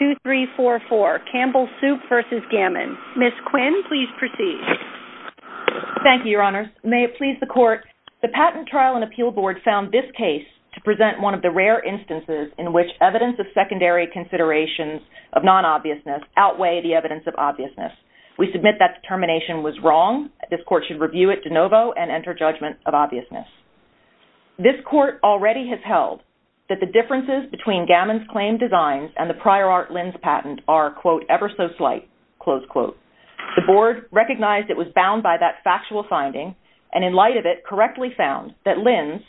2344, Campbell Soup v. Gamon. Ms. Quinn, please proceed. Thank you, Your Honors. May it please the Court, the Patent Trial and Appeal Board found this case to present one of the rare instances in which evidence of secondary considerations of non-obviousness outweigh the evidence of obviousness. We submit that the termination was wrong. This Court should review it de novo and enter judgment of obviousness. This Court already has held that the differences between Gamon's claimed designs and the prior art Linn's patent are, quote, ever so slight, close quote. The Board recognized it was bound by that factual finding and in light of it correctly found that Linn's,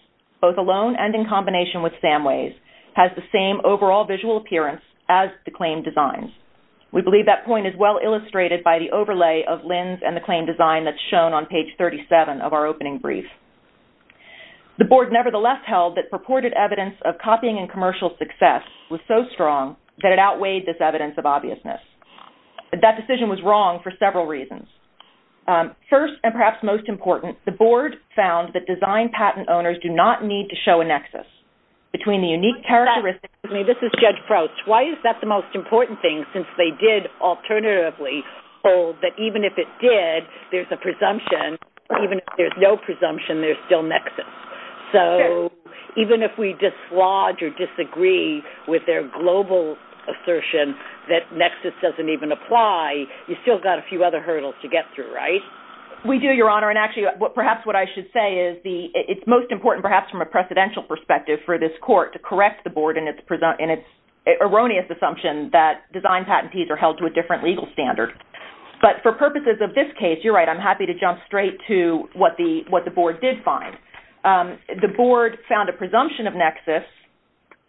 both alone and in combination with Samway's, has the same overall visual appearance as the claimed designs. We believe that point is well illustrated by the overlay of Linn's and the claimed design that's shown on page 37 of our opening brief. The Board nevertheless held that purported evidence of copying and commercial success was so strong that it outweighed this evidence of obviousness. That decision was wrong for several reasons. First and perhaps most important, the Board found that design patent owners do not need to show a nexus between the unique characteristics. This is Judge Prouts. Why is that the most important thing since they did alternatively hold that even if it did, there's a presumption, even if there's no presumption, there's still nexus? So even if we dislodge or disagree with their global assertion that nexus doesn't even apply, you've still got a few other hurdles to get through, right? We do, Your Honor, and actually perhaps what I should say is it's most important perhaps from a precedential perspective for this court to correct the Board in its erroneous assumption that design patentees are held to a different legal standard. But for purposes of this case, you're right, I'm happy to jump straight to what the Board did find. The Board found a presumption of nexus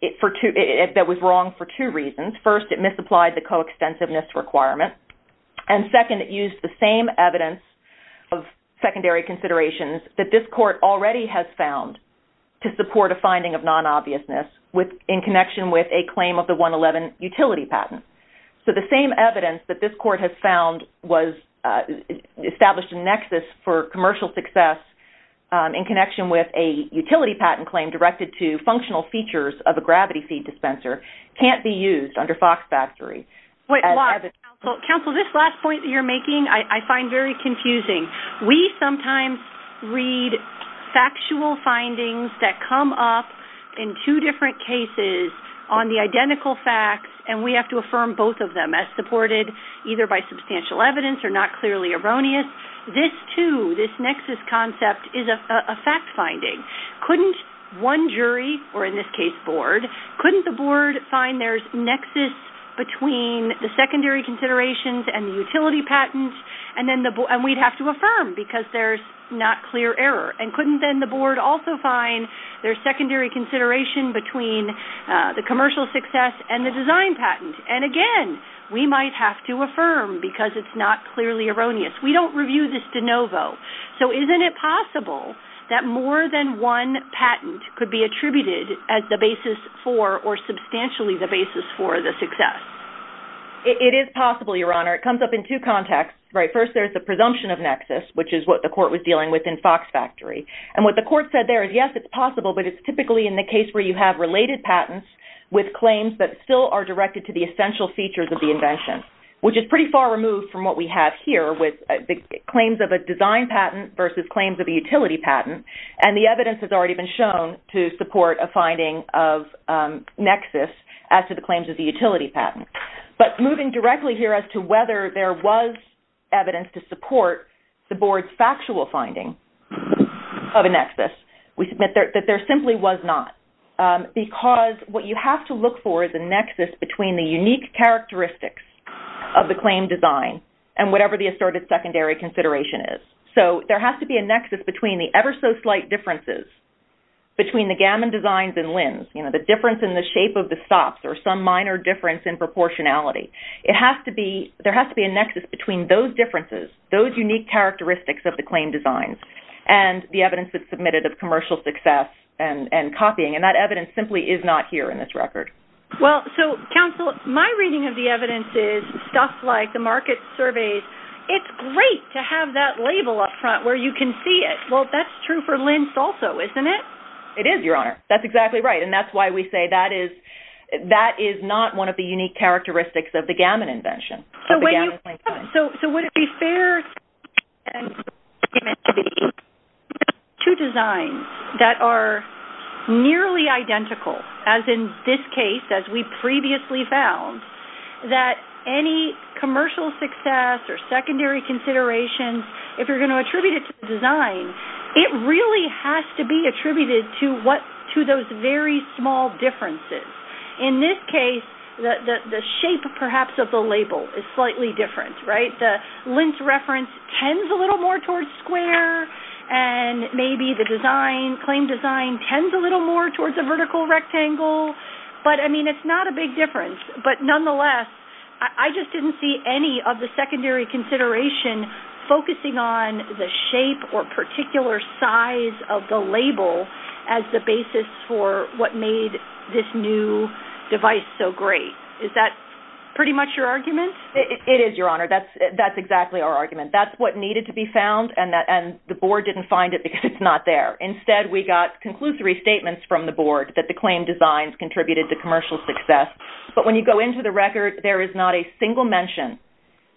that was wrong for two reasons. First, it misapplied the coextensiveness requirement and second, it used the same evidence of secondary considerations that this court already has found to support a finding of non-obviousness in connection with a claim of the 111 utility patent. So the same evidence that this court has found was established a nexus for commercial success in connection with a utility patent claim directed to functional features of a gravity factory. Counsel, this last point that you're making, I find very confusing. We sometimes read factual findings that come up in two different cases on the identical facts and we have to affirm both of them as supported either by substantial evidence or not clearly erroneous. This, too, this nexus concept is a fact finding. Couldn't one jury, or in this case Board, couldn't the Board find there's nexus between the secondary considerations and the utility patent and we'd have to affirm because there's not clear error? And couldn't then the Board also find there's secondary consideration between the commercial success and the design patent? And again, we might have to affirm because it's not clearly erroneous. We don't review this de novo. So isn't it possible that more than one patent could be attributed as the basis for or substantially the basis for the success? It is possible, Your Honor. It comes up in two contexts. First, there's the presumption of nexus, which is what the court was dealing with in Fox Factory. And what the court said there is yes, it's possible, but it's typically in the case where you have related patents with claims that still are directed to the essential features of the invention, which is pretty far removed from what we have here with the claims of a design patent versus claims of a utility patent. And the evidence has already been shown to support a finding of nexus as to the claims of the utility patent. But moving directly here as to whether there was evidence to support the Board's factual finding of a nexus, we submit that there simply was not, because what you have to look for is a nexus between the unique characteristics of the claim design and whatever the asserted secondary consideration is. So there has to be a nexus between the ever so slight differences between the Gammon designs and Linn's, the difference in the shape of the stops or some minor difference in proportionality. There has to be a nexus between those differences, those unique characteristics of the claim designs and the evidence that's submitted of commercial success and copying. And that evidence simply is not here in this record. Well, so counsel, my reading of the evidence is stuff like the market surveys, it's great to have that label up front where you can see it. Well, that's true for Linn's also, isn't it? It is, Your Honor. That's exactly right. And that's why we say that is not one of the unique characteristics of the Gammon invention. So would it be fair to submit to the two designs that are nearly identical, as in this case, as we previously found, that any commercial success or secondary considerations, if you're going to attribute it to the design, it really has to be attributed to those very small differences. In this case, the shape, perhaps, of the label is slightly different, right? The Linn's reference tends a little more towards square and maybe the design, claim design, tends a little more towards a vertical rectangle. But, I mean, it's not a big difference. But nonetheless, I just didn't see any of the secondary consideration focusing on the shape or particular size of the label as the basis for what made this new device so great. Is that pretty much your argument? It is, Your Honor. That's exactly our argument. That's what needed to be found, and the Board didn't find it because it's not there. Instead, we got conclusive restatements from the Board that the claim designs contributed to commercial success. But when you go into the record, there's no mention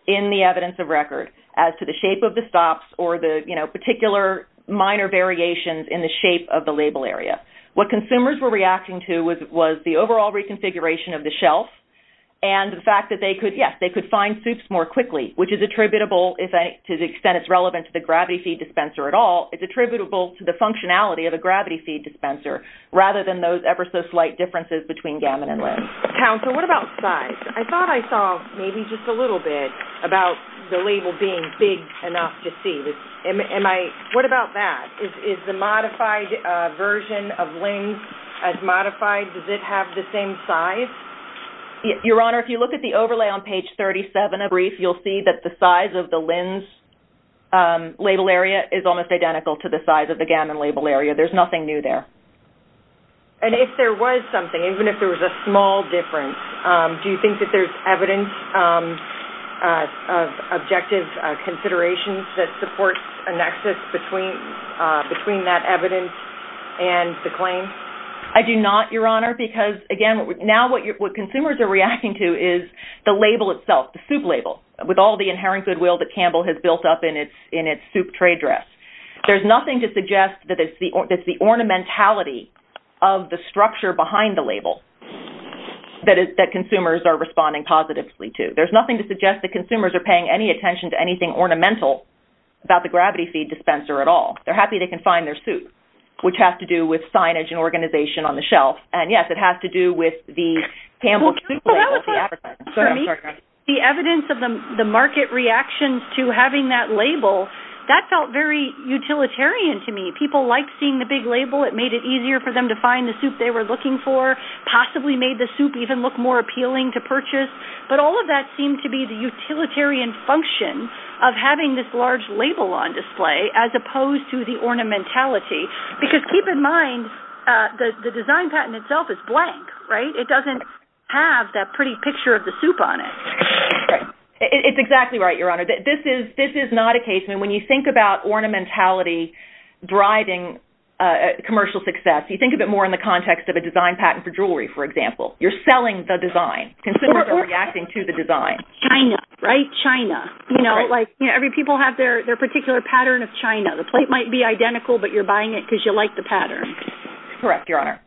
in the evidence of record as to the shape of the stops or the particular minor variations in the shape of the label area. What consumers were reacting to was the overall reconfiguration of the shelf and the fact that, yes, they could find suits more quickly, which is attributable, to the extent it's relevant to the gravity feed dispenser at all, it's attributable to the functionality of the gravity feed dispenser rather than those ever-so-slight differences between Gammon and Linz. Counsel, what about size? I thought I saw maybe just a little bit about the label being big enough to see. What about that? Is the modified version of Linz as modified? Does it have the same size? Your Honor, if you look at the overlay on page 37 of the brief, you'll see that the size of the Linz label area is almost identical to the size of the Gammon label area. There's nothing new there. And if there was something, even if there was a small difference, do you think that there's evidence of objective considerations that supports a nexus between that evidence and the claim? I do not, Your Honor, because, again, now what consumers are reacting to is the label itself, the soup label, with all the inherent goodwill that Campbell has built up in its soup trade dress. There's nothing to suggest that it's the ornamentality of the structure behind the label that consumers are responding positively to. There's nothing to suggest that consumers are paying any attention to anything ornamental about the gravity feed dispenser at all. They're happy they can find their soup, which has to do with signage and organization on the shelf. And, yes, it has to do with the evidence of the market reactions to having that label. That felt very utilitarian to me. People liked seeing the big label. It made it easier for them to find the soup they were looking for, possibly made the soup even look more appealing to purchase. But all of that seemed to be the utilitarian function of having this large label on display as opposed to the ornamentality. Because keep in mind the design patent itself is blank. It doesn't have that pretty picture of the soup on it. It's exactly right, Your Honor. This is not a case when you think about ornamentality driving commercial success, you think of it more in the context of a design patent for jewelry, for example. You're selling the design. Consumers are reacting to the design. China, right? China. People have their particular pattern of China. The plate might be identical, but you're buying it because you like the pattern. Correct, Your Honor.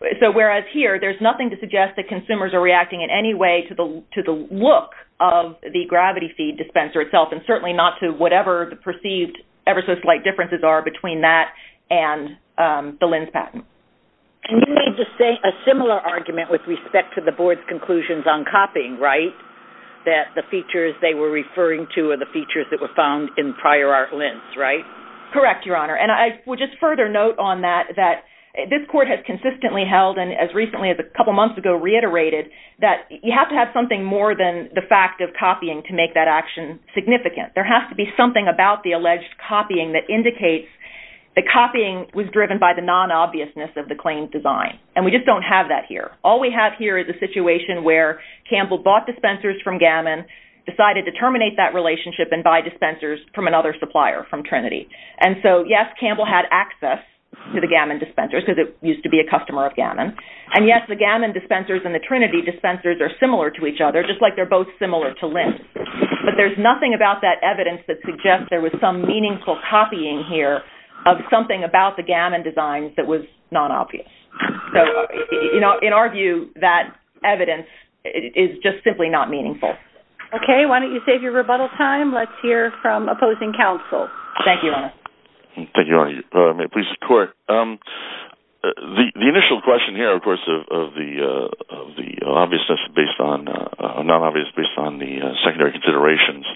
Whereas here, there's nothing to suggest that consumers are reacting in any way to the look of the gravity feed dispenser itself, and certainly not to whatever the perceived ever so slight differences are between that and the lens patent. And you made a similar argument with respect to the board's conclusions on copying, right? That the features they were referring to are the features that were found in prior art lens, right? Correct, Your Honor. And I would just further note on that that this court has consistently held, and as recently as a couple months ago reiterated, that you have to have something more than the fact of copying to make that action significant. There has to be something about the alleged copying that indicates that copying was driven by the non-obviousness of the claim design. And we just don't have that here. All we have here is a situation where Campbell bought dispensers from Gammon, decided to terminate that relationship and buy dispensers from another supplier from Trinity. And so, yes, Campbell had access to the Gammon dispensers because it used to be a customer of Gammon. And yes, the Gammon dispensers and the Trinity dispensers are similar to each other, just like they're both similar to lens. But there's nothing about that evidence that suggests there was some meaningful copying here of something about the Gammon designs that was non-obvious. So, in our view, that evidence is just simply not meaningful. Okay, why don't you save your rebuttal time? Let's hear from opposing counsel. Thank you, Your Honor. Thank you, Your Honor. The initial question here, of course, of the non-obviousness based on the secondary considerations,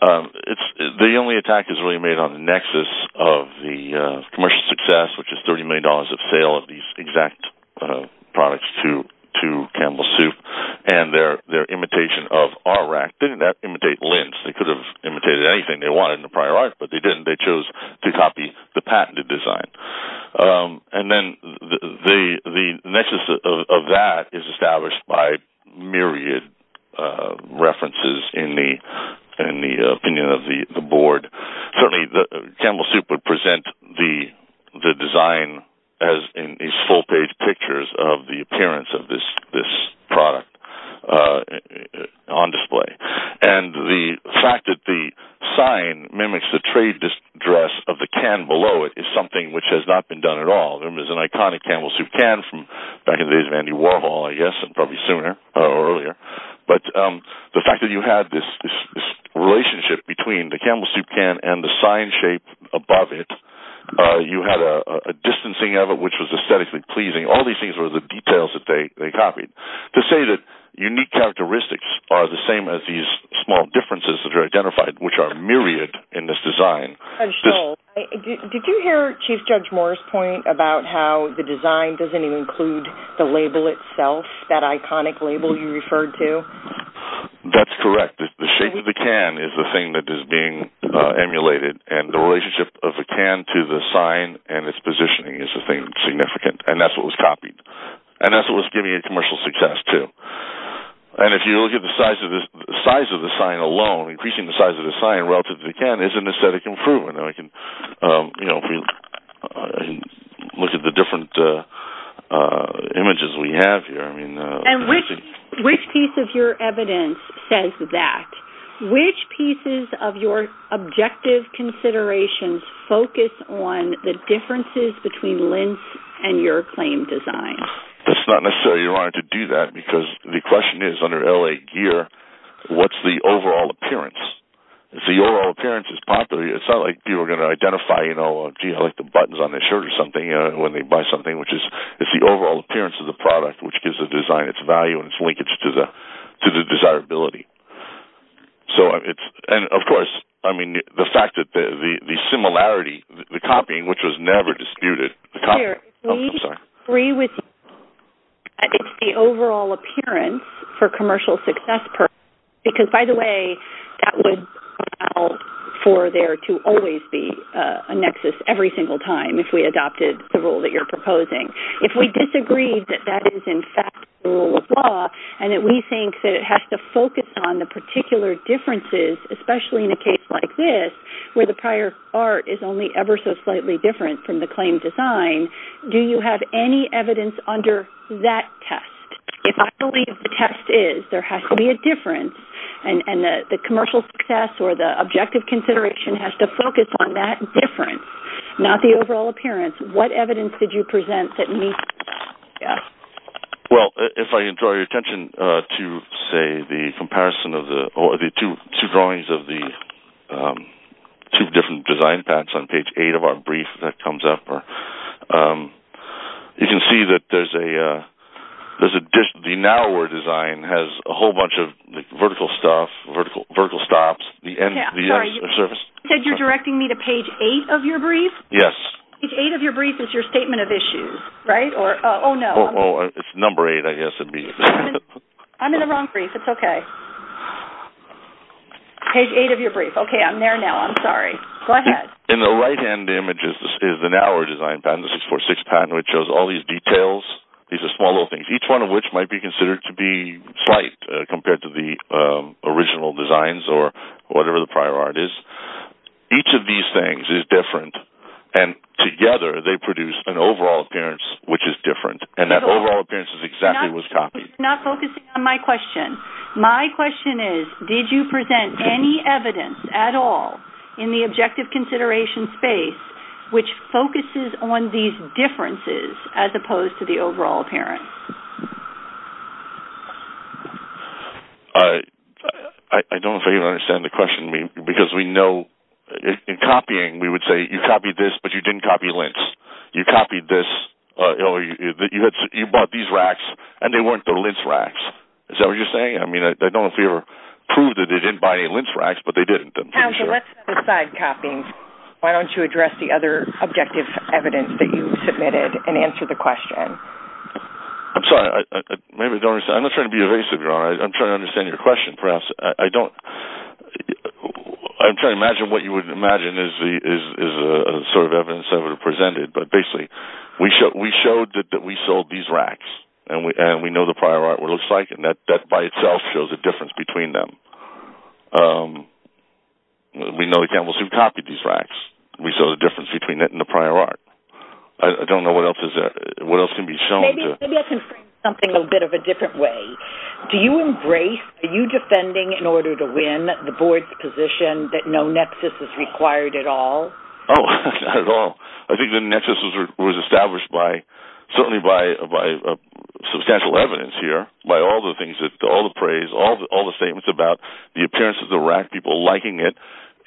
the only attack is really made on the nexus of the commercial success, which is $30 million of sale of these exact products to Campbell Soup and their imitation of R-Rack. Didn't that imitate anything they wanted in the prior art, but they didn't. They chose to copy the patented design. And then the nexus of that is established by myriad references in the opinion of the board. Certainly, Campbell Soup would present the design as in these full-page pictures of the appearance of this product on display. And the fact that the sign mimics the trade dress of the can below it is something which has not been done at all. There was an iconic Campbell Soup can from back in the days of Andy Warhol, I guess, and probably sooner or earlier. But the fact that you had this relationship between the Campbell Soup can and the sign shape above it, you had a distancing of it, which was aesthetically pleasing. All these things were the details that they copied. To say that unique characteristics are the same as these small differences that are identified, which are myriad in this design. Did you hear Chief Judge Moore's point about how the design doesn't even include the label itself, that iconic label you referred to? That's correct. The shape of the can is the thing that is being emulated. And the relationship of the can to the sign and its positioning is the thing significant. And that's what was copied. And that's what was giving it commercial success, too. And if you look at the size of the sign alone, increasing the size of the sign relative to the can is an aesthetic improvement. I can look at the different images we have here. And which piece of your evidence says that? Which pieces of your objective considerations focus on the differences between Linz and your claim design? That's not necessarily why I wanted to do that, because the question is, under L.A. Gear, what's the overall appearance? If the overall appearance is popular, it's not like people are going to identify, you know, design its value and its linkage to the desirability. And, of course, the fact that the similarity, the copying, which was never disputed. It's the overall appearance for commercial success. Because, by the way, that would allow for there to always be a nexus every single time if we adopted the rule that you're proposing. If we disagree that that is, in fact, the rule of law, and that we think that it has to focus on the particular differences, especially in a case like this, where the prior art is only ever so slightly different from the claim design, do you have any evidence under that test? If I believe the test is, there has to be a difference. And the commercial success or the objective consideration has to focus on that difference, not the overall appearance. What evidence did you present that meets that? Well, if I draw your attention to, say, the comparison of the two drawings of the two different design paths on page eight of our brief that comes up, you can see that there's the narrower design has a whole bunch of vertical stuff, vertical stops. Sorry, you said you're directing me to page eight of your brief? Yes. Page eight of your brief is your statement of issues, right? Oh, no. It's number eight, I guess it would be. I'm in the wrong brief. It's okay. Page eight of your brief. Okay, I'm there now. I'm sorry. Go ahead. In the right-hand image is the narrower design pattern, the 646 pattern, which shows all these details. These are small little things, each one of which might be considered to be slight compared to the original designs or whatever the prior art is. Each of these things is different, and together they produce an overall appearance which is different. And that overall appearance is exactly what's copied. I'm not focusing on my question. My question is, did you present any evidence at all in the objective consideration space which focuses on these differences as opposed to the overall appearance? I don't know if you understand the question, because we know in copying we would say, you copied this, but you didn't copy lint. You copied this, but you bought these racks, and they weren't the lint racks. Is that what you're saying? I mean, I don't know if you ever proved that they didn't buy any lint racks, but they didn't. Let's set aside copying. Why don't you address the other objective evidence that you submitted and answer the question? I'm sorry. I'm not trying to be evasive. I'm trying to understand your question. I'm trying to imagine what you would imagine is the sort of evidence that would have presented, but basically we showed that we sold these racks, and we know the prior art what it looks like, and that by itself shows a difference between them. We know we copied these racks. We saw the difference between that and the prior art. I don't know what else can be shown. Maybe I can frame something a little bit of a different way. Do you embrace, are you defending in order to win the board's position that no nexus is required at all? Not at all. I think the nexus was established certainly by substantial evidence here, by all the praise, all the statements about the appearance of the rack, people liking it,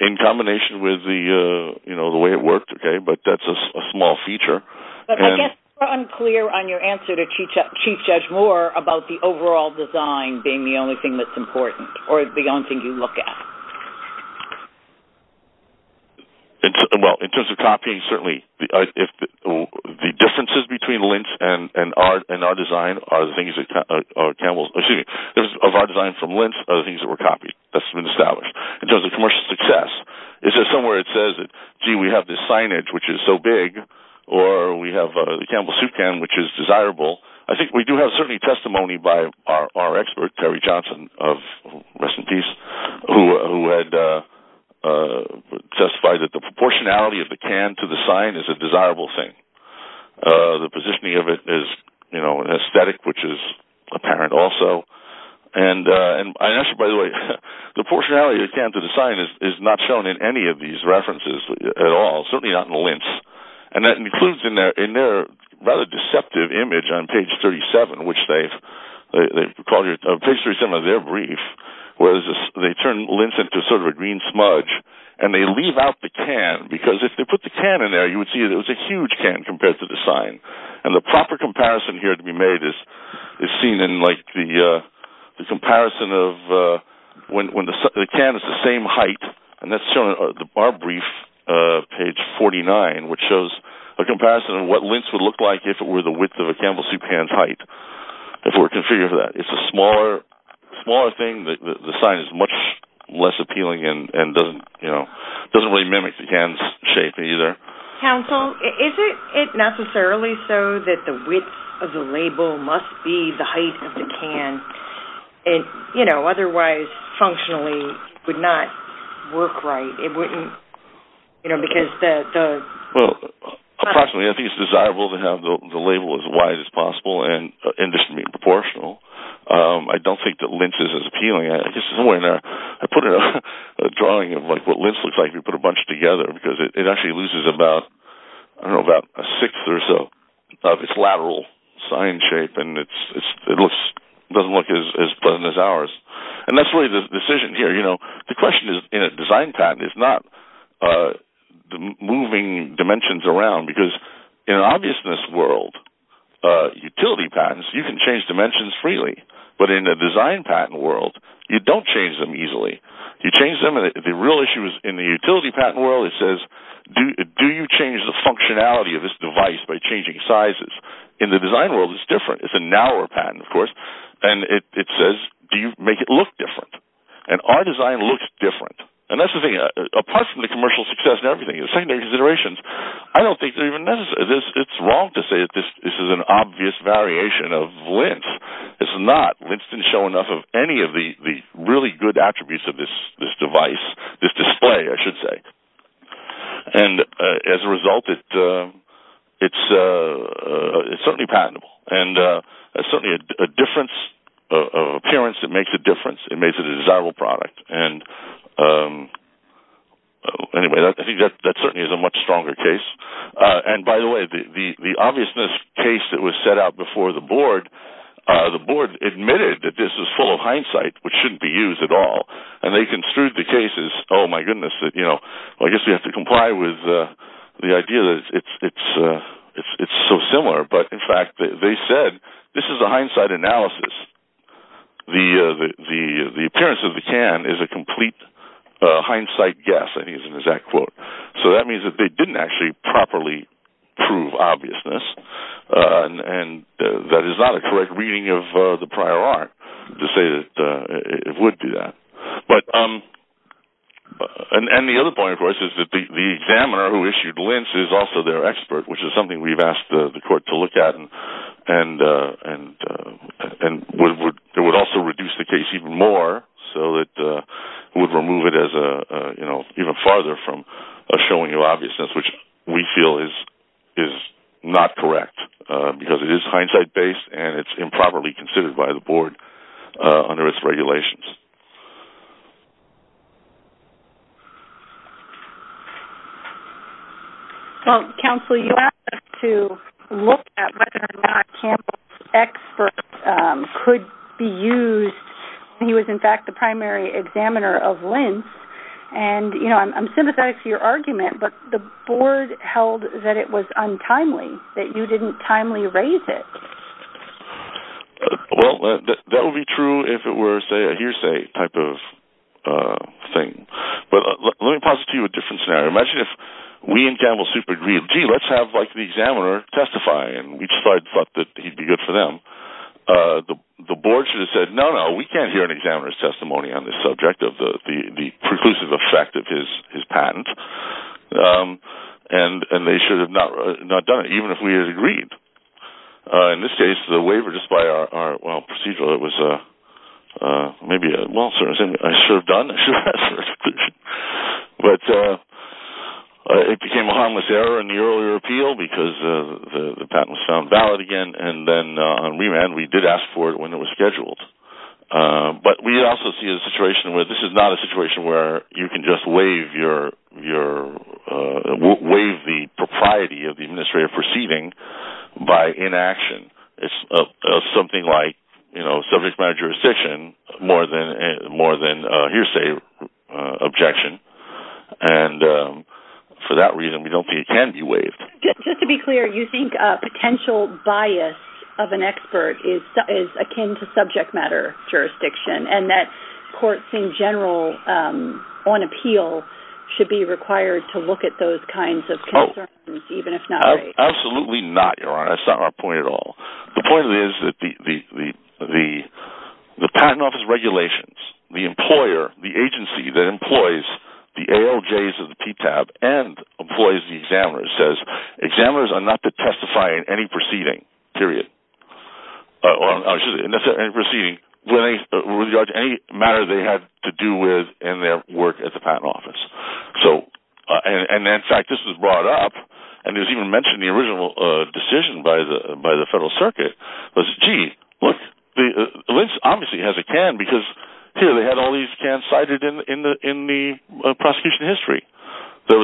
in combination with the way it worked, but that's a small feature. I guess we're unclear on your answer to Chief Judge Moore about the overall design being the only thing that's important, or the only thing you look at. In terms of copying, certainly the differences between Lintz and our design are the things that were copied. That's been established. In terms of commercial success, is there somewhere it says, gee, we have this signage, which is so big, or we have the Campbell Soup can, which is desirable? I think we do have certainly testimony by our expert, Terry Johnson, who had testified that the proportionality of the can to the sign is a desirable thing. The positioning of it is an aesthetic, which is apparent also. By the way, the proportionality of the can to the sign is not shown in any of these references at all, certainly not in Lintz. That includes in their rather deceptive image on page 37, where they turn Lintz into sort of a green smudge, and they leave out the can, because if they put the can in there, you would see it was a huge can compared to the sign. The proper comparison here to be made is seen in the comparison of when the can is the same height, and that's shown in our brief, page 49, which shows a comparison of what Lintz would look like if it were the width of a Campbell Soup can's height. It's a smaller thing. The sign is much less appealing and doesn't really mimic the can's shape either. Counsel, is it necessarily so that the width of the label must be the height of the can? Otherwise, functionally, it would not work right. Approximately. I think it's desirable to have the label as wide as possible and disproportionately proportional. I don't think that Lintz is as appealing. I put a drawing of what Lintz looks like and put a bunch together, because it actually loses about a sixth or so of its lateral sign shape, and it doesn't look as pleasant as ours. The question in a design patent is not moving dimensions around, because in an obviousness world, utility patents, you can change dimensions freely, but in a design patent world, you don't change them easily. The real issue is in the utility patent world, it says, do you change the functionality of this device by changing sizes? In the design world, it's different. It's a narrower patent, of course, and it says, do you make it look different? Our design looks different. Apart from the commercial success and everything, the secondary considerations, I don't think it's wrong to say that this is an obvious variation of Lintz. It's not. Lintz didn't show enough of any of the really good attributes of this device, this display, I should say. As a result, it's certainly patentable. It's certainly a difference of appearance. It makes a difference. It makes a desirable product. That certainly is a much stronger case. By the way, the obviousness case that was set out before the board, the board admitted that this is full of hindsight, which shouldn't be used at all. They construed the case as, oh my goodness, I guess we have to comply with the idea that it's so similar. In fact, they said, this is a hindsight analysis. The appearance of the can is a complete hindsight guess. I think it's an exact quote. That means that they didn't actually properly prove obviousness. That is not a correct reading of the prior art to say that it would be that. The other point, of course, is that the examiner who issued Lintz is also their expert, which is something we've asked the court to look at. It would also reduce the case even more so that it would remove it even farther from showing you obviousness, which we feel is not correct because it is hindsight based and it's improperly considered by the board under its regulations. Counsel, you asked us to look at whether or not Campbell's expert could be used. He was, in fact, the primary examiner of Lintz. I'm sympathetic to your argument, but the board should have said, no, no, we can't hear an examiner's testimony on this subject of the preclusive effect of his patent. And they should have not done it, even if we had agreed. It was a waiver just by our, well, procedural. It was maybe a well, I served on it. It became a harmless error in the earlier appeal because the patent was found valid again. And then on remand, we did ask for it when it was scheduled. But we also see a situation where this is not a situation where you can just say, no, no, we can't do that. It's something that we're perceiving by inaction. It's something like subject matter jurisdiction more than hearsay objection. And for that reason, we don't think it can be waived. Just to be clear, you think a potential bias of an expert is akin to subject matter jurisdiction? Absolutely not, Your Honor. That's not our point at all. The point is that the patent office regulations, the employer, the agency that employs the ALJs of the PTAB and employs the examiners, says examiners are not to testify in any proceeding, period. In any proceeding regarding any matter they have to do with in their work at the patent office. And in fact, this was brought up, and it was even mentioned in the original decision by the Federal Circuit. Lintz obviously has a can because here they had all these cans cited in the prosecution history. The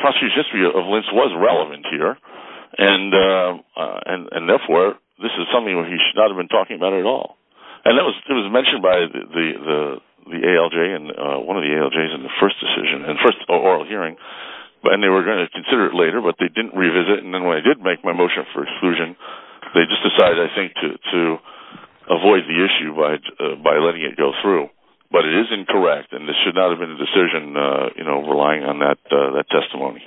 prosecution history of Lintz was relevant here. And therefore, this is something we should not have been talking about at all. And it was mentioned by the ALJ and one of the ALJs in the first decision, in the first oral hearing. And they were going to consider it later, but they didn't revisit. And then when they did make my motion for exclusion, they just decided, I think, to avoid the issue by letting it go through. But it is incorrect, and this should not have been the decision relying on that testimony.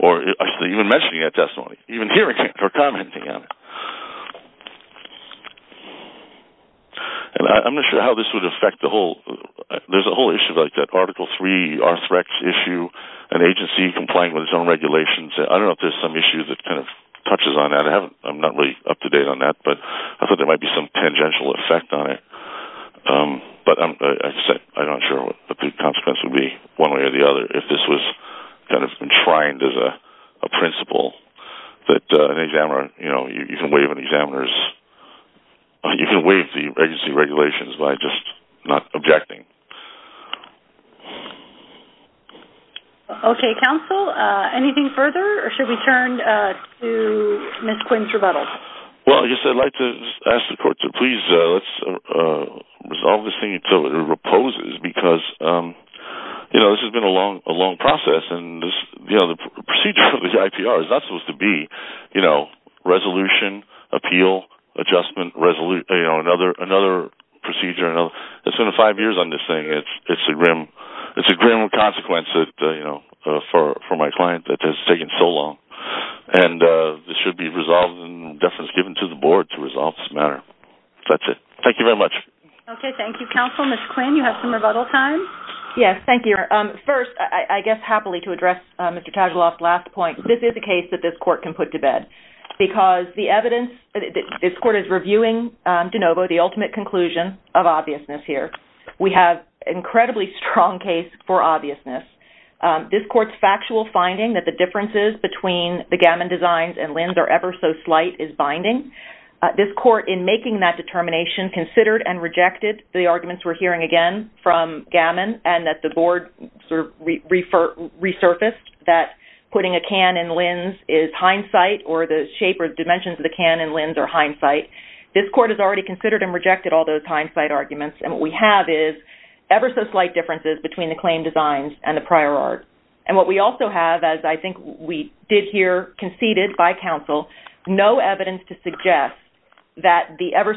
Or even mentioning that testimony, even hearing it or commenting on it. And I'm not sure how this would affect the whole, there's a whole issue like that Article 3, our threat issue, an agency complying with its own regulations. I don't know if there's some issue that kind of touches on that. I'm not really up to date on that, but I thought there might be some tangential effect on it. But like I said, I'm not sure what the consequence would be, one way or the other, if this was kind of enshrined as a principle that an examiner, you know, you can waive an examiner's, you can waive the agency regulations by just not objecting. Okay, counsel, anything further, or should we turn to Ms. Quinn's rebuttal? Well, I guess I'd like to ask the court to please resolve this thing until it reposes, because this has been a long process, and the procedure of this IPR is not supposed to be resolution, appeal, adjustment, another procedure. It's been five years on this thing. It's a grim consequence that, you know, for my client, that this has taken so long. And this should be resolved in deference given to the board to resolve this matter. That's it. Thank you very much. Okay, thank you, counsel. Ms. Quinn, you have some rebuttal time? Yes, thank you. First, I guess happily to address Mr. Tadgeloff's last point, this is a case that this court can put to bed, because the evidence, this court is reviewing de novo the ultimate conclusion of obviousness here. We have an incredibly strong case for obviousness. This court's factual finding that the differences between the Gammon designs and Lins are ever so slight is binding. This court, in making that determination, considered and rejected the arguments we're hearing again from Gammon, and that the board resurfaced that putting a can in Lins is hindsight, or the board did not have any evidence to suggest that the ever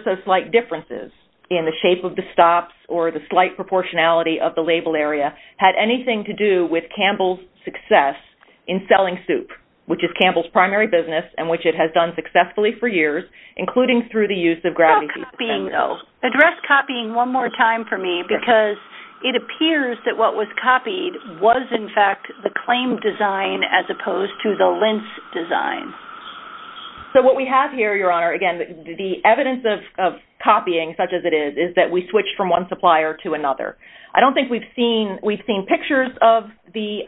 so slight differences in the shape of the stops or the slight proportionality of the label area had anything to do with Campbell's success in selling soup, which is Campbell's primary business, and which it has done successfully for years, including through the use of gravity-deep defenses. That cannot be, though. Address Campbell's claim. I'm going to ask you to start copying one more time for me, because it appears that what was copied was, in fact, the claim design as opposed to the Lins design. So what we have here, Your Honor, again, the evidence of copying, such as it is, is that we switched from one supplier to another. I don't think we've seen pictures of the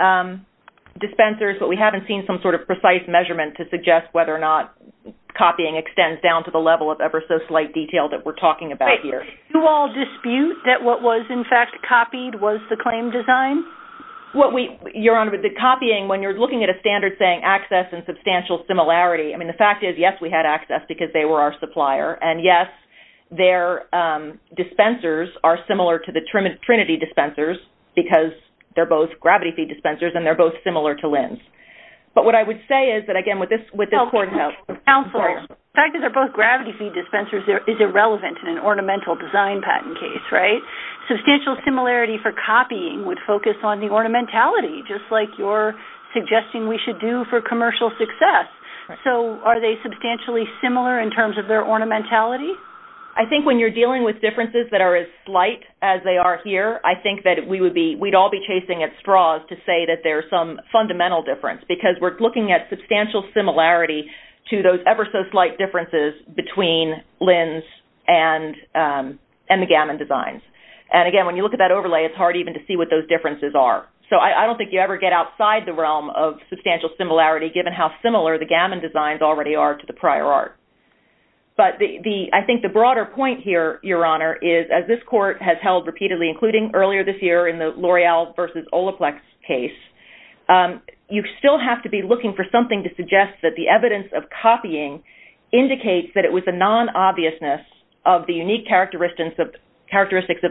dispensers, but we haven't seen some sort of precise measurement to suggest whether or not copying extends down to the level of ever so slight detail that we're talking about here. Do you all dispute that what was, in fact, copied was the claim design? Your Honor, the copying, when you're looking at a standard saying access and substantial similarity, I mean, the fact is, yes, we had access because they were our supplier, and yes, their dispensers are similar to the Trinity dispensers because they're both gravity feed dispensers and they're both similar to Lins. But what I would say is that, again, with this court note... Counselor, the fact that they're both gravity feed dispensers is irrelevant in an ornamental design patent case, right? Substantial similarity for copying would focus on the ornamentality, just like you're suggesting we should do for commercial success. So are they substantially similar in terms of their ornamentality? I think when you're dealing with differences that are as slight as they are here, I think that we'd all be chasing at straws to say that there's some fundamental difference because we're looking at substantial similarity to those ever so slight differences between Lins and the Gammon designs. And again, when you look at that overlay, it's hard even to see what those differences are. So I don't think you ever get outside the realm of substantial similarity, given how similar the Gammon designs already are to the prior art. But I think the broader point here, Your Honor, is as this court has held repeatedly, including earlier this year in the L'Oreal versus Olaplex case, you still have to be looking for something to suggest that the evidence of copying indicates that it was the non-obviousness of the unique characteristics of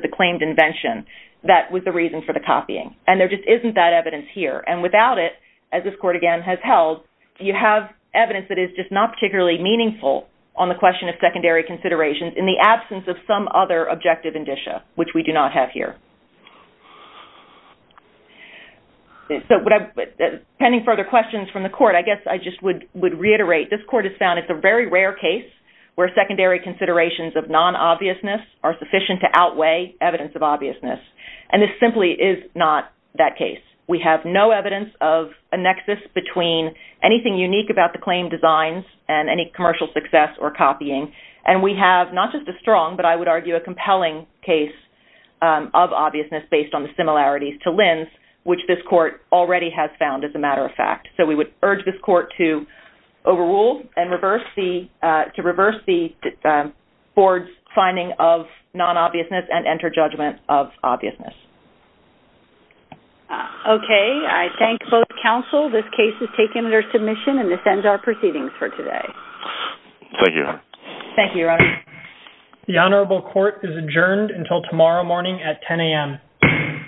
the claimed invention that was the reason for the copying. And there just isn't that evidence here. And without it, as this court again has held, you have evidence that is just not particularly meaningful on the question of secondary considerations in the absence of some other objective indicia, which we do not have here. So pending further questions from the court, I guess I just would reiterate, this court has found it's a very rare case where secondary considerations of non-obviousness are sufficient to outweigh evidence of obviousness. And this simply is not that case. We have no evidence of a nexus between anything unique about the claimed designs and any commercial success or copying. And we have not just a strong, but I would argue a compelling case of obviousness based on the similarities to Lin's, which this court already has found as a matter of fact. So we would urge this court to overrule and to reverse the board's finding of non-obviousness and enter judgment of obviousness. Okay. I thank both counsel. This case is taken under submission and this ends our proceedings for today. Thank you. Thank you, Your Honor. The Honorable Court is adjourned until tomorrow morning at 10 a.m.